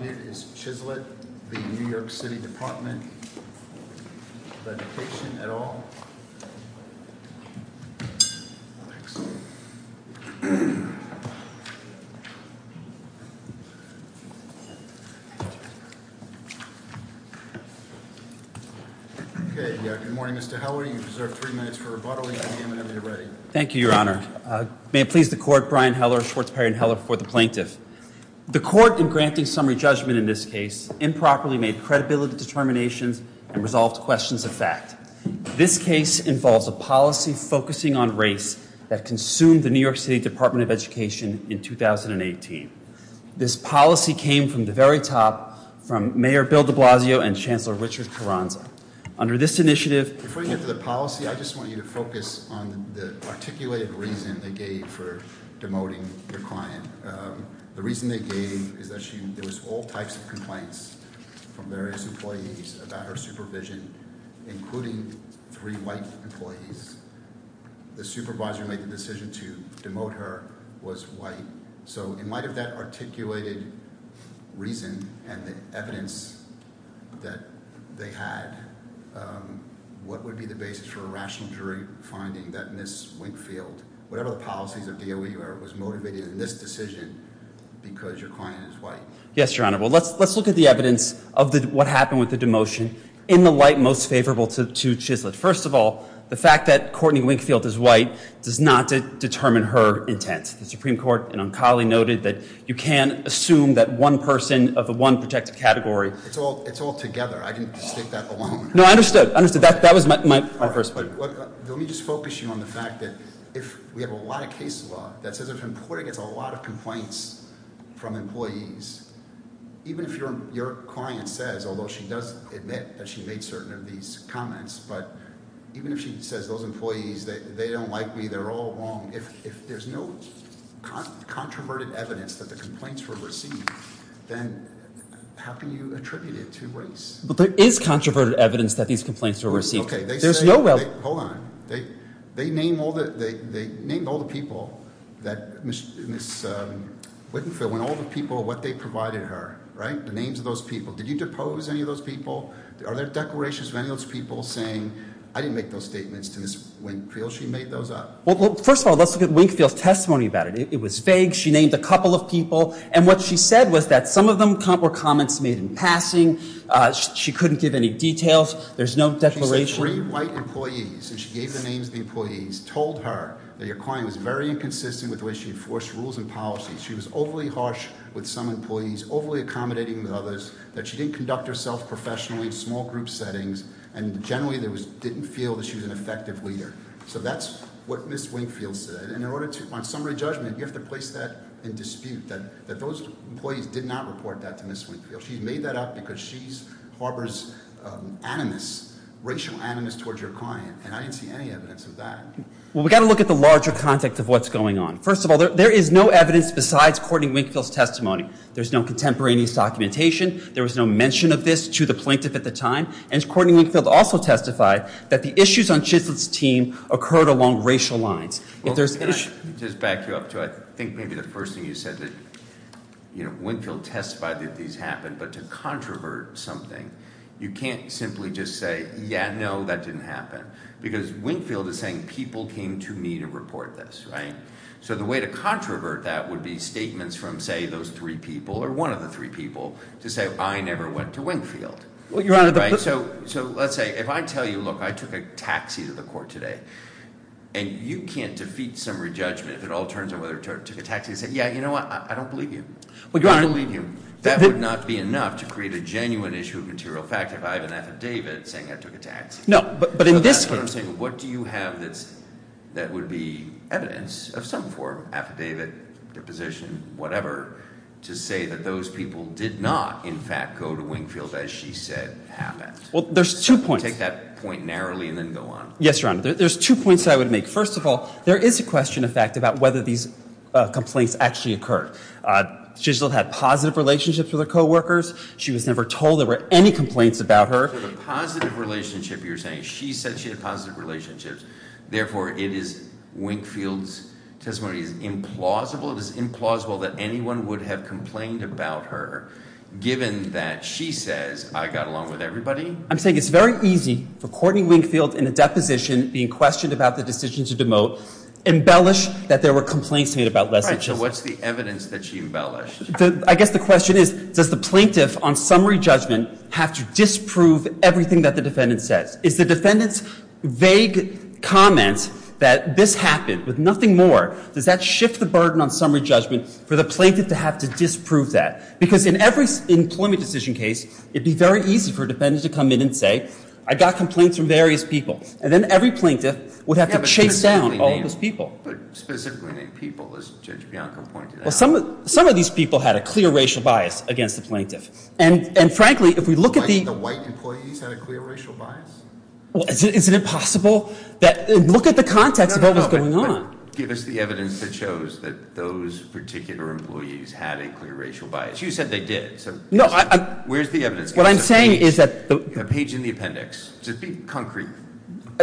Good morning Mr. Heller, you have three minutes for rebuttal and at the end of it you're ready. Thank you, your honor. May it please the court, Brian Heller, Schwartz, Perry, and Heller before the plaintiff. The court in granting summary judgment in this case improperly made credibility determinations and resolved questions of fact. This case involves a policy focusing on race that consumed the New York City Department of Education in 2018. This policy came from the very top from Mayor Bill de Blasio and Chancellor Richard Carranza. Under this initiative- Before you get to the policy, I just want you to focus on the articulated reason they gave for demoting the client. The reason they gave is that there was all types of complaints from various employees about her supervision, including three white employees. The supervisor who made the decision to demote her was white. So in light of that articulated reason and the evidence that they had, what would be the basis for a rational jury finding that Ms. Winkfield, whatever the policies of DOE were, was motivated in this decision because your client is white? Yes, your honor. Well, let's look at the evidence of what happened with the demotion in the light most favorable to Chislett. First of all, the fact that Courtney Winkfield is white does not determine her intent. The Supreme Court and Ancali noted that you can't assume that one person of the one protected category- It's all together. I can state that alone. No, I understood. I understood. That was my first point. Let me just focus you on the fact that if we have a lot of case law that says if an employee gets a lot of complaints from employees, even if your client says, although she does admit that she made certain of these comments, but even if she says those employees, they don't like me, they're all wrong. If there's no controverted evidence that the complaints were received, then how can you attribute it to race? But there is controverted evidence that these complaints were received. Okay, they say- There's no- Hold on. They named all the people that Ms. Winkfield, when all the people, what they provided her, right? The names of those people. Did you depose any of those people? Are there declarations of any of those people saying, I didn't make those statements to Ms. Winkfield, she made those up? Well, first of all, let's look at Winkfield's testimony about it. It was vague. She named a couple of people. And what she said was that some of them were comments made in passing, she couldn't give any details, there's no declaration. She said three white employees, and she gave the names of the employees, told her that your client was very inconsistent with the way she enforced rules and policies. She was overly harsh with some employees, overly accommodating with others, that she didn't conduct herself professionally in small group settings. And generally didn't feel that she was an effective leader. So that's what Ms. Winkfield said. And in order to, on summary judgment, you have to place that in dispute, that those employees did not report that to Ms. Winkfield. She made that up because she harbors animus, racial animus towards your client, and I didn't see any evidence of that. Well, we gotta look at the larger context of what's going on. First of all, there is no evidence besides Courtney Winkfield's testimony. There's no contemporaneous documentation. There was no mention of this to the plaintiff at the time. And Courtney Winkfield also testified that the issues on Chislett's team occurred along racial lines. If there's- Just back you up to, I think maybe the first thing you said, that Winkfield testified that these happened. But to controvert something, you can't simply just say, yeah, no, that didn't happen. Because Winkfield is saying, people came to me to report this, right? So the way to controvert that would be statements from, say, those three people, or one of the three people, to say, I never went to Winkfield. So let's say, if I tell you, look, I took a taxi to the court today. And you can't defeat some re-judgment if it all turns out whether I took a taxi and say, yeah, you know what, I don't believe you. I don't believe you. That would not be enough to create a genuine issue of material fact if I have an affidavit saying I took a taxi. No, but in this case- What do you have that would be evidence of some form, affidavit, deposition, whatever, to say that those people did not, in fact, go to Winkfield as she said happened? Well, there's two points. Take that point narrowly and then go on. Yes, Your Honor, there's two points I would make. First of all, there is a question, in fact, about whether these complaints actually occurred. She still had positive relationships with her co-workers. She was never told there were any complaints about her. So the positive relationship you're saying, she said she had positive relationships. Therefore, it is Winkfield's testimony is implausible. It is implausible that anyone would have complained about her, given that she says, I got along with everybody. I'm saying it's very easy for Courtney Winkfield in a deposition being questioned about the decision to demote, embellish that there were complaints made about Lesley- Right, so what's the evidence that she embellished? I guess the question is, does the plaintiff on summary judgment have to disprove everything that the defendant says? Is the defendant's vague comment that this happened with nothing more, does that shift the burden on summary judgment for the plaintiff to have to disprove that? Because in every employment decision case, it'd be very easy for a defendant to come in and say, I got complaints from various people. And then every plaintiff would have to chase down all of those people. But specifically named people, as Judge Bianco pointed out. Some of these people had a clear racial bias against the plaintiff. And frankly, if we look at the- The white employees had a clear racial bias? Well, is it impossible that, look at the context of what was going on. Give us the evidence that shows that those particular employees had a clear racial bias. You said they did, so where's the evidence? What I'm saying is that- Page in the appendix, just be concrete.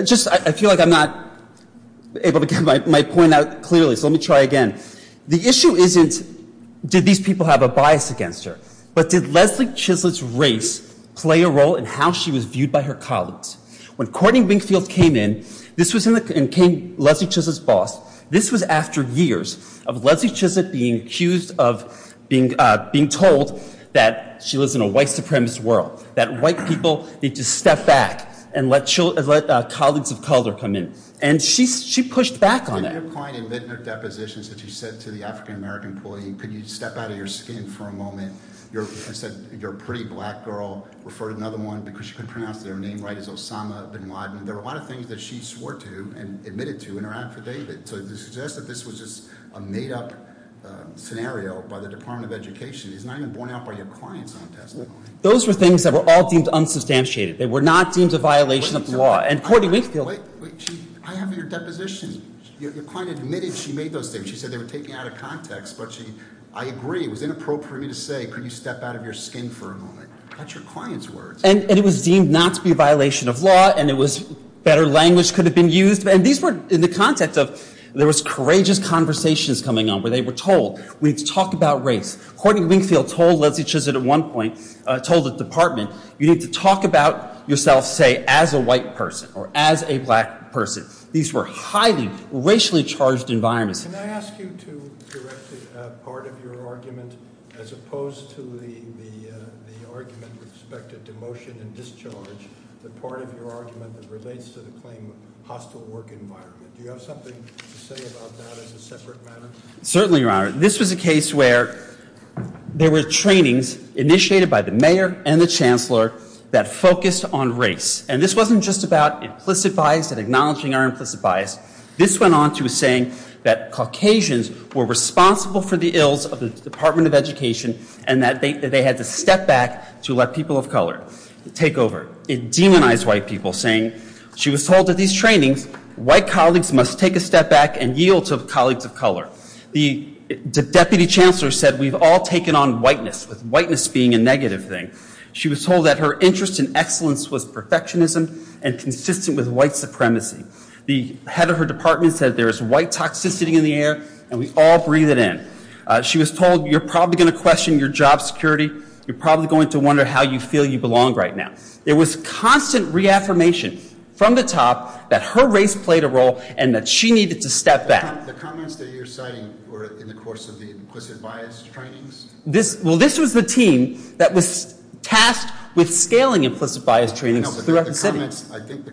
Just, I feel like I'm not able to get my point out clearly, so let me try again. The issue isn't, did these people have a bias against her? But did Lesley Chislett's race play a role in how she was viewed by her colleagues? When Courtney Wingfield came in, and came Lesley Chislett's boss, this was after years of Lesley Chislett being accused of being told that she lives in a white supremacist world. That white people need to step back and let colleagues of color come in. And she pushed back on that. In your point in the depositions that you said to the African American employee, could you step out of your skin for a moment? I said, you're a pretty black girl, refer to another one, because you couldn't pronounce their name right, it's Osama Bin Laden. There were a lot of things that she swore to and admitted to in her affidavit. So to suggest that this was just a made up scenario by the Department of Education is not even borne out by your client's own testimony. Those were things that were all deemed unsubstantiated. They were not deemed a violation of the law. And Courtney Wingfield- Wait, wait, I have your deposition. Your client admitted she made those statements. She said they were taken out of context. But she, I agree, it was inappropriate for me to say, could you step out of your skin for a moment? That's your client's words. And it was deemed not to be a violation of law, and it was better language could have been used. And these were in the context of, there was courageous conversations coming on where they were told, we need to talk about race. Courtney Wingfield told Leslie Chislett at one point, told the department, you need to talk about yourself, say, as a white person or as a black person. These were highly racially charged environments. Can I ask you to correct the part of your argument as opposed to the argument with respect to demotion and discharge, the part of your argument that relates to the claim of hostile work environment. Do you have something to say about that as a separate matter? Certainly, Your Honor. This was a case where there were trainings initiated by the mayor and the chancellor that focused on race. And this wasn't just about implicit bias and acknowledging our implicit bias. This went on to saying that Caucasians were responsible for the ills of the Department of Education and that they had to step back to let people of color take over. It demonized white people, saying, she was told at these trainings, white colleagues must take a step back and yield to colleagues of color. The deputy chancellor said, we've all taken on whiteness, with whiteness being a negative thing. She was told that her interest in excellence was perfectionism and consistent with white supremacy. The head of her department said there is white toxicity in the air and we all breathe it in. She was told, you're probably going to question your job security. You're probably going to wonder how you feel you belong right now. It was constant reaffirmation from the top that her race played a role and that she needed to step back. The comments that you're citing were in the course of the implicit bias trainings? Well, this was the team that was tasked with scaling implicit bias trainings throughout the city. I think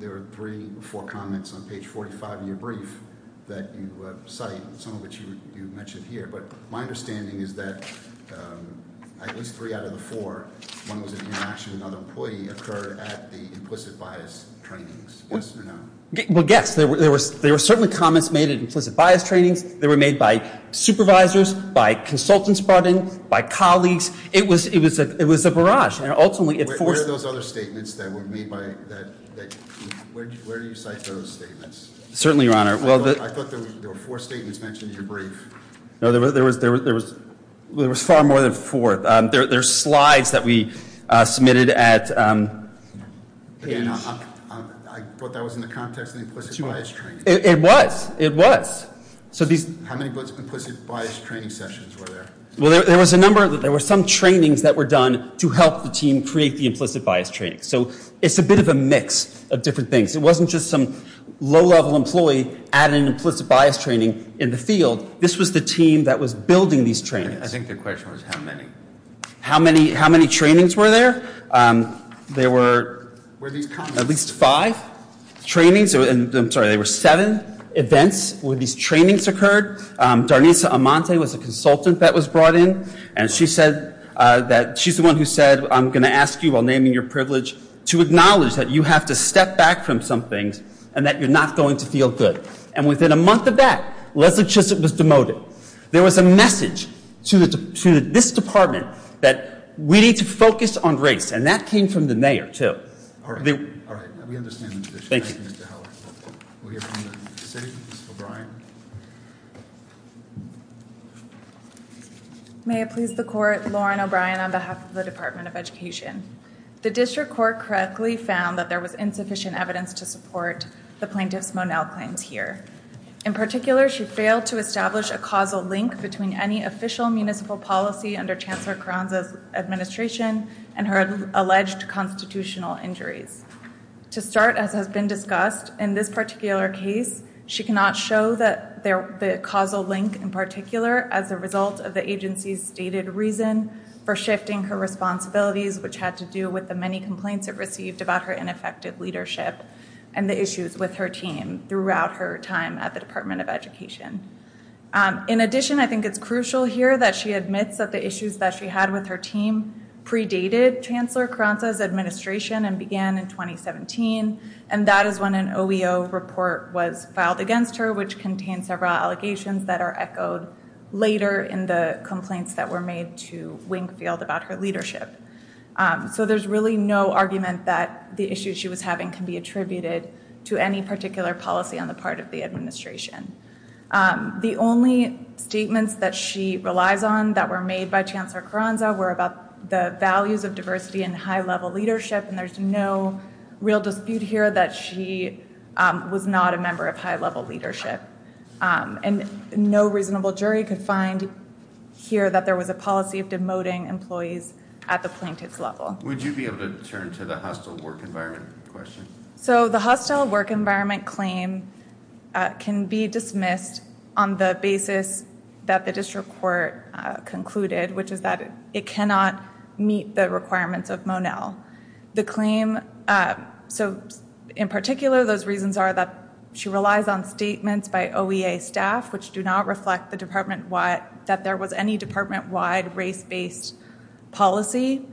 there were three or four comments on page 45 of your brief that you cite, some of which you mentioned here. But my understanding is that at least three out of the four, one was an interaction with another employee, occurred at the implicit bias trainings, yes or no? Well, yes, there were certainly comments made at implicit bias trainings. They were made by supervisors, by consultants brought in, by colleagues. It was a barrage, and ultimately it forced- Statements that were made by, where do you cite those statements? Certainly, your honor. Well, I thought there were four statements mentioned in your brief. No, there was far more than four. There's slides that we submitted at- I thought that was in the context of the implicit bias training. It was, it was. So these- How many implicit bias training sessions were there? Well, there was a number, there were some trainings that were done to help the team create the implicit bias training. So it's a bit of a mix of different things. It wasn't just some low-level employee at an implicit bias training in the field. This was the team that was building these trainings. I think the question was how many. How many, how many trainings were there? There were at least five trainings, and I'm sorry, there were seven events where these trainings occurred. Darnisa Amante was a consultant that was brought in, and she said that, she's the one who said, I'm going to ask you while naming your privilege to acknowledge that you have to step back from some things, and that you're not going to feel good. And within a month of that, Leslie Chisholm was demoted. There was a message to this department that we need to focus on race, and that came from the mayor, too. All right, all right, we understand the position. Thank you, Mr. Heller. We'll hear from the city, Ms. O'Brien. May it please the court, Lauren O'Brien on behalf of the Department of Education. The district court correctly found that there was insufficient evidence to support the plaintiff's Monel claims here. In particular, she failed to establish a causal link between any official municipal policy under Chancellor Carranza's administration and her alleged constitutional injuries. To start, as has been discussed, in this particular case, she cannot show the causal link in particular as a result of the agency's stated reason for shifting her responsibilities, which had to do with the many complaints it received about her ineffective leadership and the issues with her team throughout her time at the Department of Education. In addition, I think it's crucial here that she admits that the issues that she had with her team predated Chancellor Carranza's administration, and began in 2017, and that is when an OEO report was filed against her, which contains several allegations that are echoed later in the complaints that were made to Wingfield about her leadership. So there's really no argument that the issues she was having can be attributed to any particular policy on the part of the administration. The only statements that she relies on that were made by Chancellor Carranza were about the values of diversity and high-level leadership, and there's no real dispute here that she was not a member of high-level leadership. And no reasonable jury could find here that there was a policy of demoting employees at the plaintiff's level. Would you be able to turn to the hostile work environment question? So the hostile work environment claim can be dismissed on the basis that the district court concluded, which is that it cannot meet the requirements of Monell. The claim, so in particular, those reasons are that she relies on statements by OEA staff, which do not reflect that there was any department-wide race-based policy.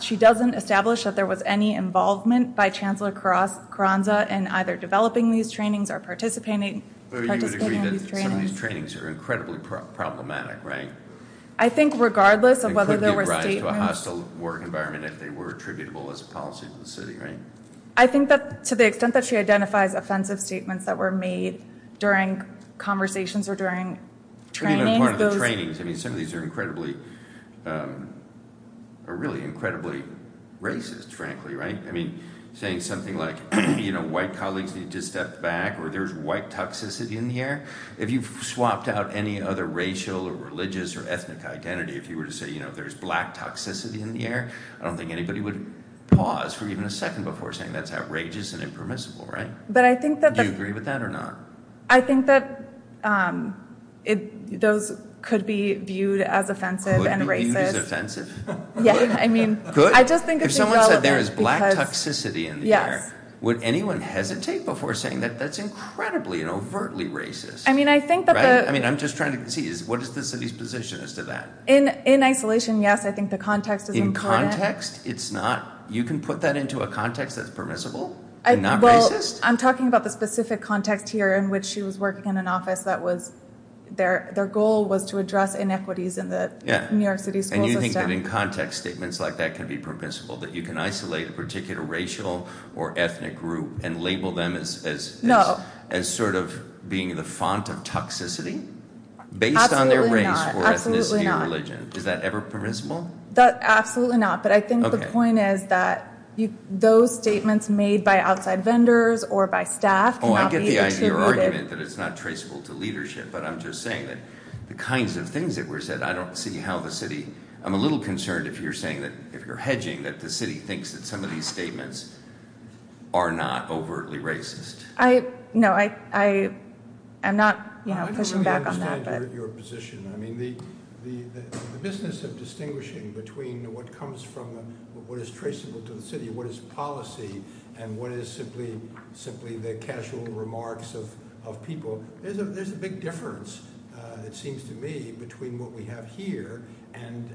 She doesn't establish that there was any involvement by Chancellor Carranza in either developing these trainings or participating in these trainings. So you would agree that some of these trainings are incredibly problematic, right? I think regardless of whether there were statements- It could be a rise to a hostile work environment if they were attributable as a policy to the city, right? I think that to the extent that she identifies offensive statements that were made during conversations or during training, those- Even in part of the trainings, I mean, some of these are incredibly, are really incredibly racist, frankly, right? I mean, saying something like, white colleagues need to step back, or there's white toxicity in here. If you've swapped out any other racial or religious or ethnic identity, if you were to say, there's black toxicity in the air, I don't think anybody would pause for even a second before saying that's outrageous and impermissible, right? But I think that- Do you agree with that or not? I think that those could be viewed as offensive and racist. Could be viewed as offensive? Yeah, I mean- Could? I just think it's irrelevant because- If someone said there is black toxicity in the air, would anyone hesitate before saying that that's incredibly and overtly racist? I mean, I think that the- I mean, I'm just trying to see, what is the city's position as to that? In isolation, yes, I think the context is important. In context, it's not? You can put that into a context that's permissible and not racist? I'm talking about the specific context here in which she was working in an office that was, their goal was to address inequities in the New York City school system. Yeah, and you think that in context, statements like that can be permissible, that you can isolate a particular racial or ethnic group and label them as- As sort of being the font of toxicity? Based on their race or ethnicity or religion. Is that ever permissible? Absolutely not. But I think the point is that those statements made by outside vendors or by staff- Oh, I get the idea, your argument that it's not traceable to leadership, but I'm just saying that the kinds of things that were said, I don't see how the city- I'm a little concerned if you're saying that, if you're hedging, that the city thinks that some of these statements are not overtly racist. No, I am not pushing back on that. I don't really understand your position. I mean, the business of distinguishing between what comes from what is traceable to the city, what is policy, and what is simply the casual remarks of people, there's a big difference, it seems to me, between what we have here and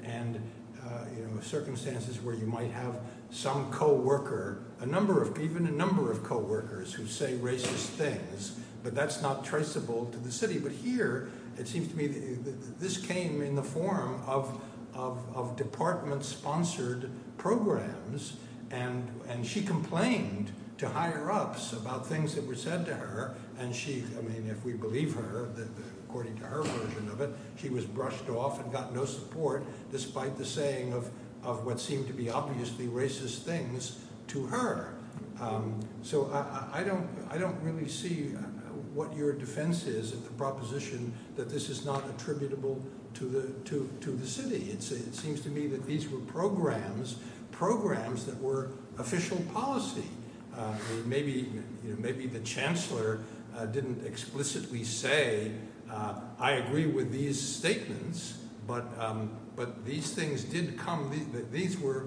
circumstances where you might have some co-worker, a number of- even a number of co-workers who say racist things, but that's not traceable to the city. But here, it seems to me, this came in the form of department-sponsored programs, and she complained to higher-ups about things that were said to her, and she, I mean, if we believe her, according to her version of it, she was brushed off and got no support, despite the saying of what seemed to be obviously racist things to her. So I don't really see what your defense is of the proposition that this is not attributable to the city. It seems to me that these were programs, programs that were official policy. Maybe, you know, maybe the chancellor didn't explicitly say, I agree with these statements, but these things did come- these were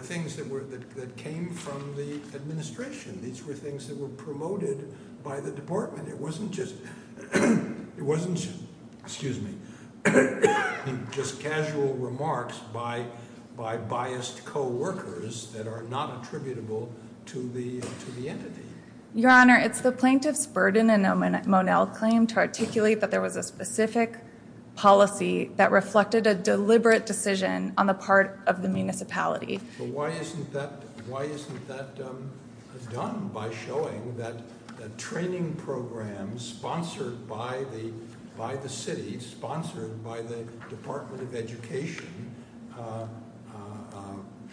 things that were- that came from the administration. These were things that were promoted by the department. It wasn't just- it wasn't, excuse me, just casual remarks by biased co-workers that are not attributable to the entity. Your Honor, it's the plaintiff's burden and Monell claim to articulate that there was a specific policy that reflected a deliberate decision on the part of the municipality. But why isn't that- why isn't that done by showing that the training programs sponsored by the- by the city, sponsored by the Department of Education,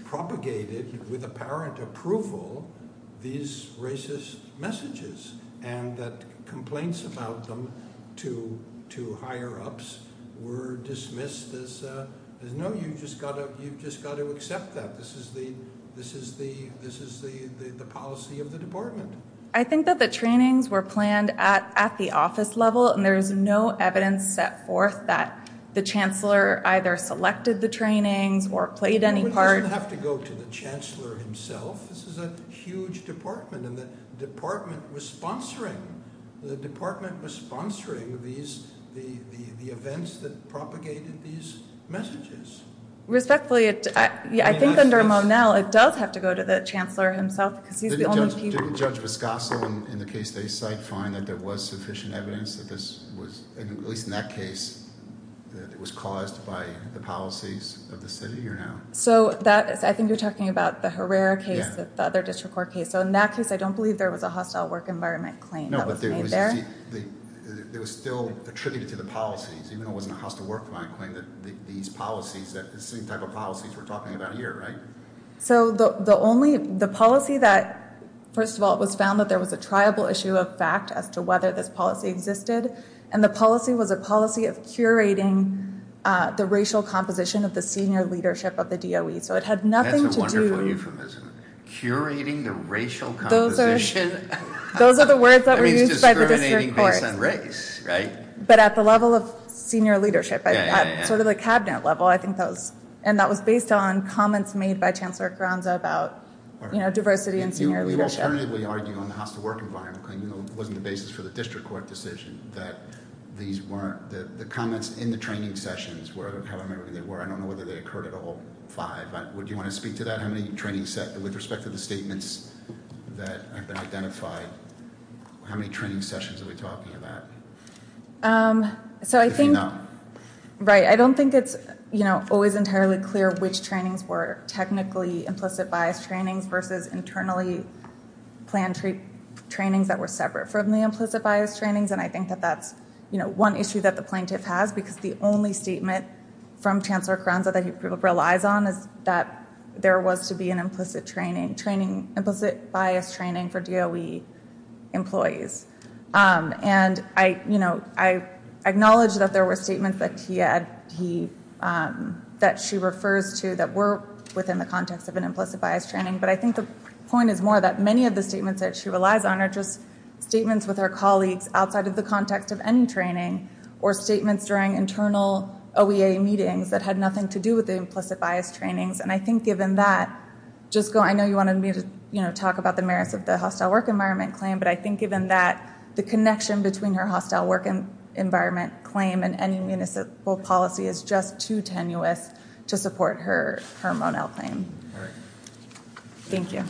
propagated with apparent approval these racist messages? And that complaints about them to- to higher-ups were dismissed as, no, you've just got to- you've just got to accept that. This is the- this is the- this is the policy of the department. I think that the trainings were planned at- at the office level, and there's no evidence set forth that the chancellor either selected the trainings or played any part- It doesn't have to go to the chancellor himself. This is a huge department, and the department was sponsoring- the department was sponsoring these- the- the events that propagated these messages. Respectfully, I think under Monell, it does have to go to the chancellor himself because he's the only- Didn't Judge Viscoso, in the case they cite, find that there was sufficient evidence that this was, at least in that case, that it was caused by the policies of the city, or no? So that- I think you're talking about the Herrera case, the other district court case. So in that case, I don't believe there was a hostile work environment claim that was made there. No, but there was- there was still attributed to the policies, even though it wasn't a hostile work environment claim, that these policies, that the same type of policies we're talking about here, right? So the- the only- the policy that- first of all, it was found that there was a triable issue of fact as to whether this policy existed, and the policy was a policy of curating the racial composition of the senior leadership of the DOE. So it had nothing to do- That's a wonderful euphemism. Curating the racial composition. Those are- those are the words that were used by the district court. That means discriminating based on race, right? But at the level of senior leadership, at sort of the cabinet level, I think that was- I think it was made by Chancellor Carranza about, you know, diversity in senior leadership. You alternatively argue on the hostile work environment claim, you know, it wasn't the basis for the district court decision, that these weren't- the comments in the training sessions were however many they were. I don't know whether they occurred at all, five. Would you want to speak to that? How many training sessions- with respect to the statements that have been identified, how many training sessions are we talking about? So I think- Right, I don't think it's, you know, always entirely clear which trainings were technically implicit bias trainings versus internally planned trainings that were separate from the implicit bias trainings. And I think that that's, you know, one issue that the plaintiff has, because the only statement from Chancellor Carranza that he relies on is that there was to be an implicit training- implicit bias training for DOE employees. And I, you know, I acknowledge that there were statements that he had- that she refers to that were within the context of an implicit bias training. But I think the point is more that many of the statements that she relies on are just statements with her colleagues outside of the context of any training or statements during internal OEA meetings that had nothing to do with the implicit bias trainings. And I think given that, just go- I know you wanted me to, you know, talk about the merits of the hostile work environment claim. But I think given that, the connection between her hostile work environment claim and any municipal policy is just too tenuous to support her- her Monell claim. Thank you.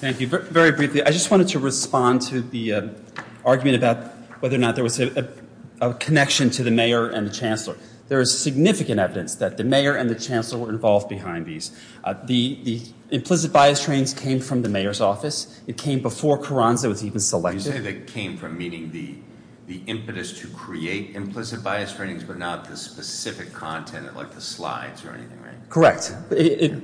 Thank you. Very briefly, I just wanted to respond to the argument about whether or not there was a connection to the mayor and the chancellor. There is significant evidence that the mayor and the chancellor were involved behind these. The implicit bias trainings came from the mayor's office. It came before Carranza was even selected. You say they came from, meaning the impetus to create implicit bias trainings, but not the specific content like the slides or anything, right? Correct.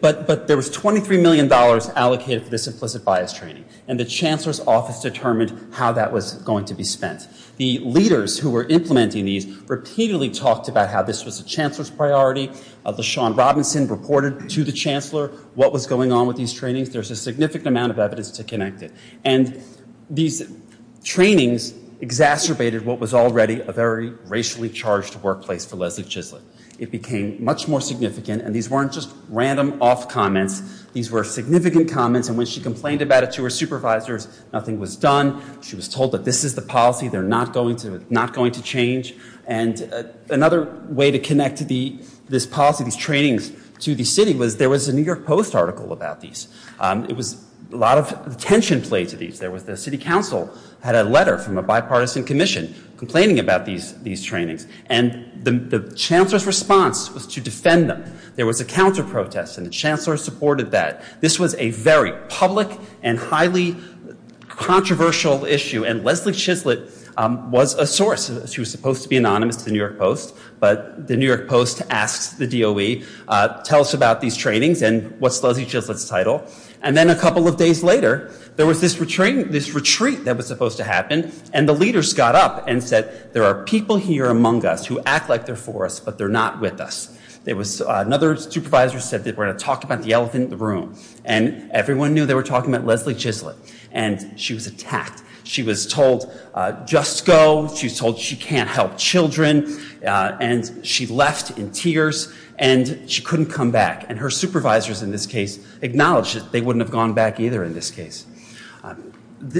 But there was $23 million allocated for this implicit bias training. And the chancellor's office determined how that was going to be spent. The leaders who were implementing these repeatedly talked about how this was a chancellor's priority. LaShawn Robinson reported to the chancellor what was going on with these trainings. There's a significant amount of evidence to connect it. And these trainings exacerbated what was already a very racially charged workplace for Leslie Gislett. It became much more significant. And these weren't just random off comments. These were significant comments. And when she complained about it to her supervisors, nothing was done. She was told that this is the policy. They're not going to- not going to change. And another way to connect to this policy, these trainings to the city, was there was a New York Post article about these. It was- a lot of tension played to these. There was- the city council had a letter from a bipartisan commission complaining about these trainings. And the chancellor's response was to defend them. There was a counter protest. And the chancellor supported that. This was a very public and highly controversial issue. And Leslie Gislett was a source. She was supposed to be anonymous to the New York Post. But the New York Post asked the DOE, tell us about these trainings and what's Leslie Gislett's title. And then a couple of days later, there was this retreat that was supposed to happen. And the leaders got up and said, there are people here among us who act like they're for us, but they're not with us. There was another supervisor said that we're going to talk about the elephant in the room. And everyone knew they were talking about Leslie Gislett. And she was attacked. She was told just go. She was told she can't help children. And she left in tears. And she couldn't come back. And her supervisors in this case acknowledged that they wouldn't have gone back either in this case.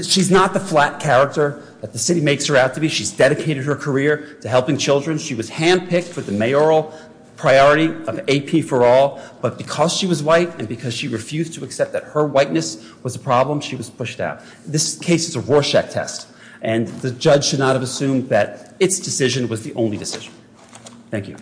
She's not the flat character that the city makes her out to be. She's dedicated her career to helping children. She was handpicked for the mayoral priority of AP for All. But because she was white and because she refused to accept that her whiteness was a problem, she was pushed out. This case is a Rorschach test. And the judge should not have assumed that its decision was the only decision. Thank you.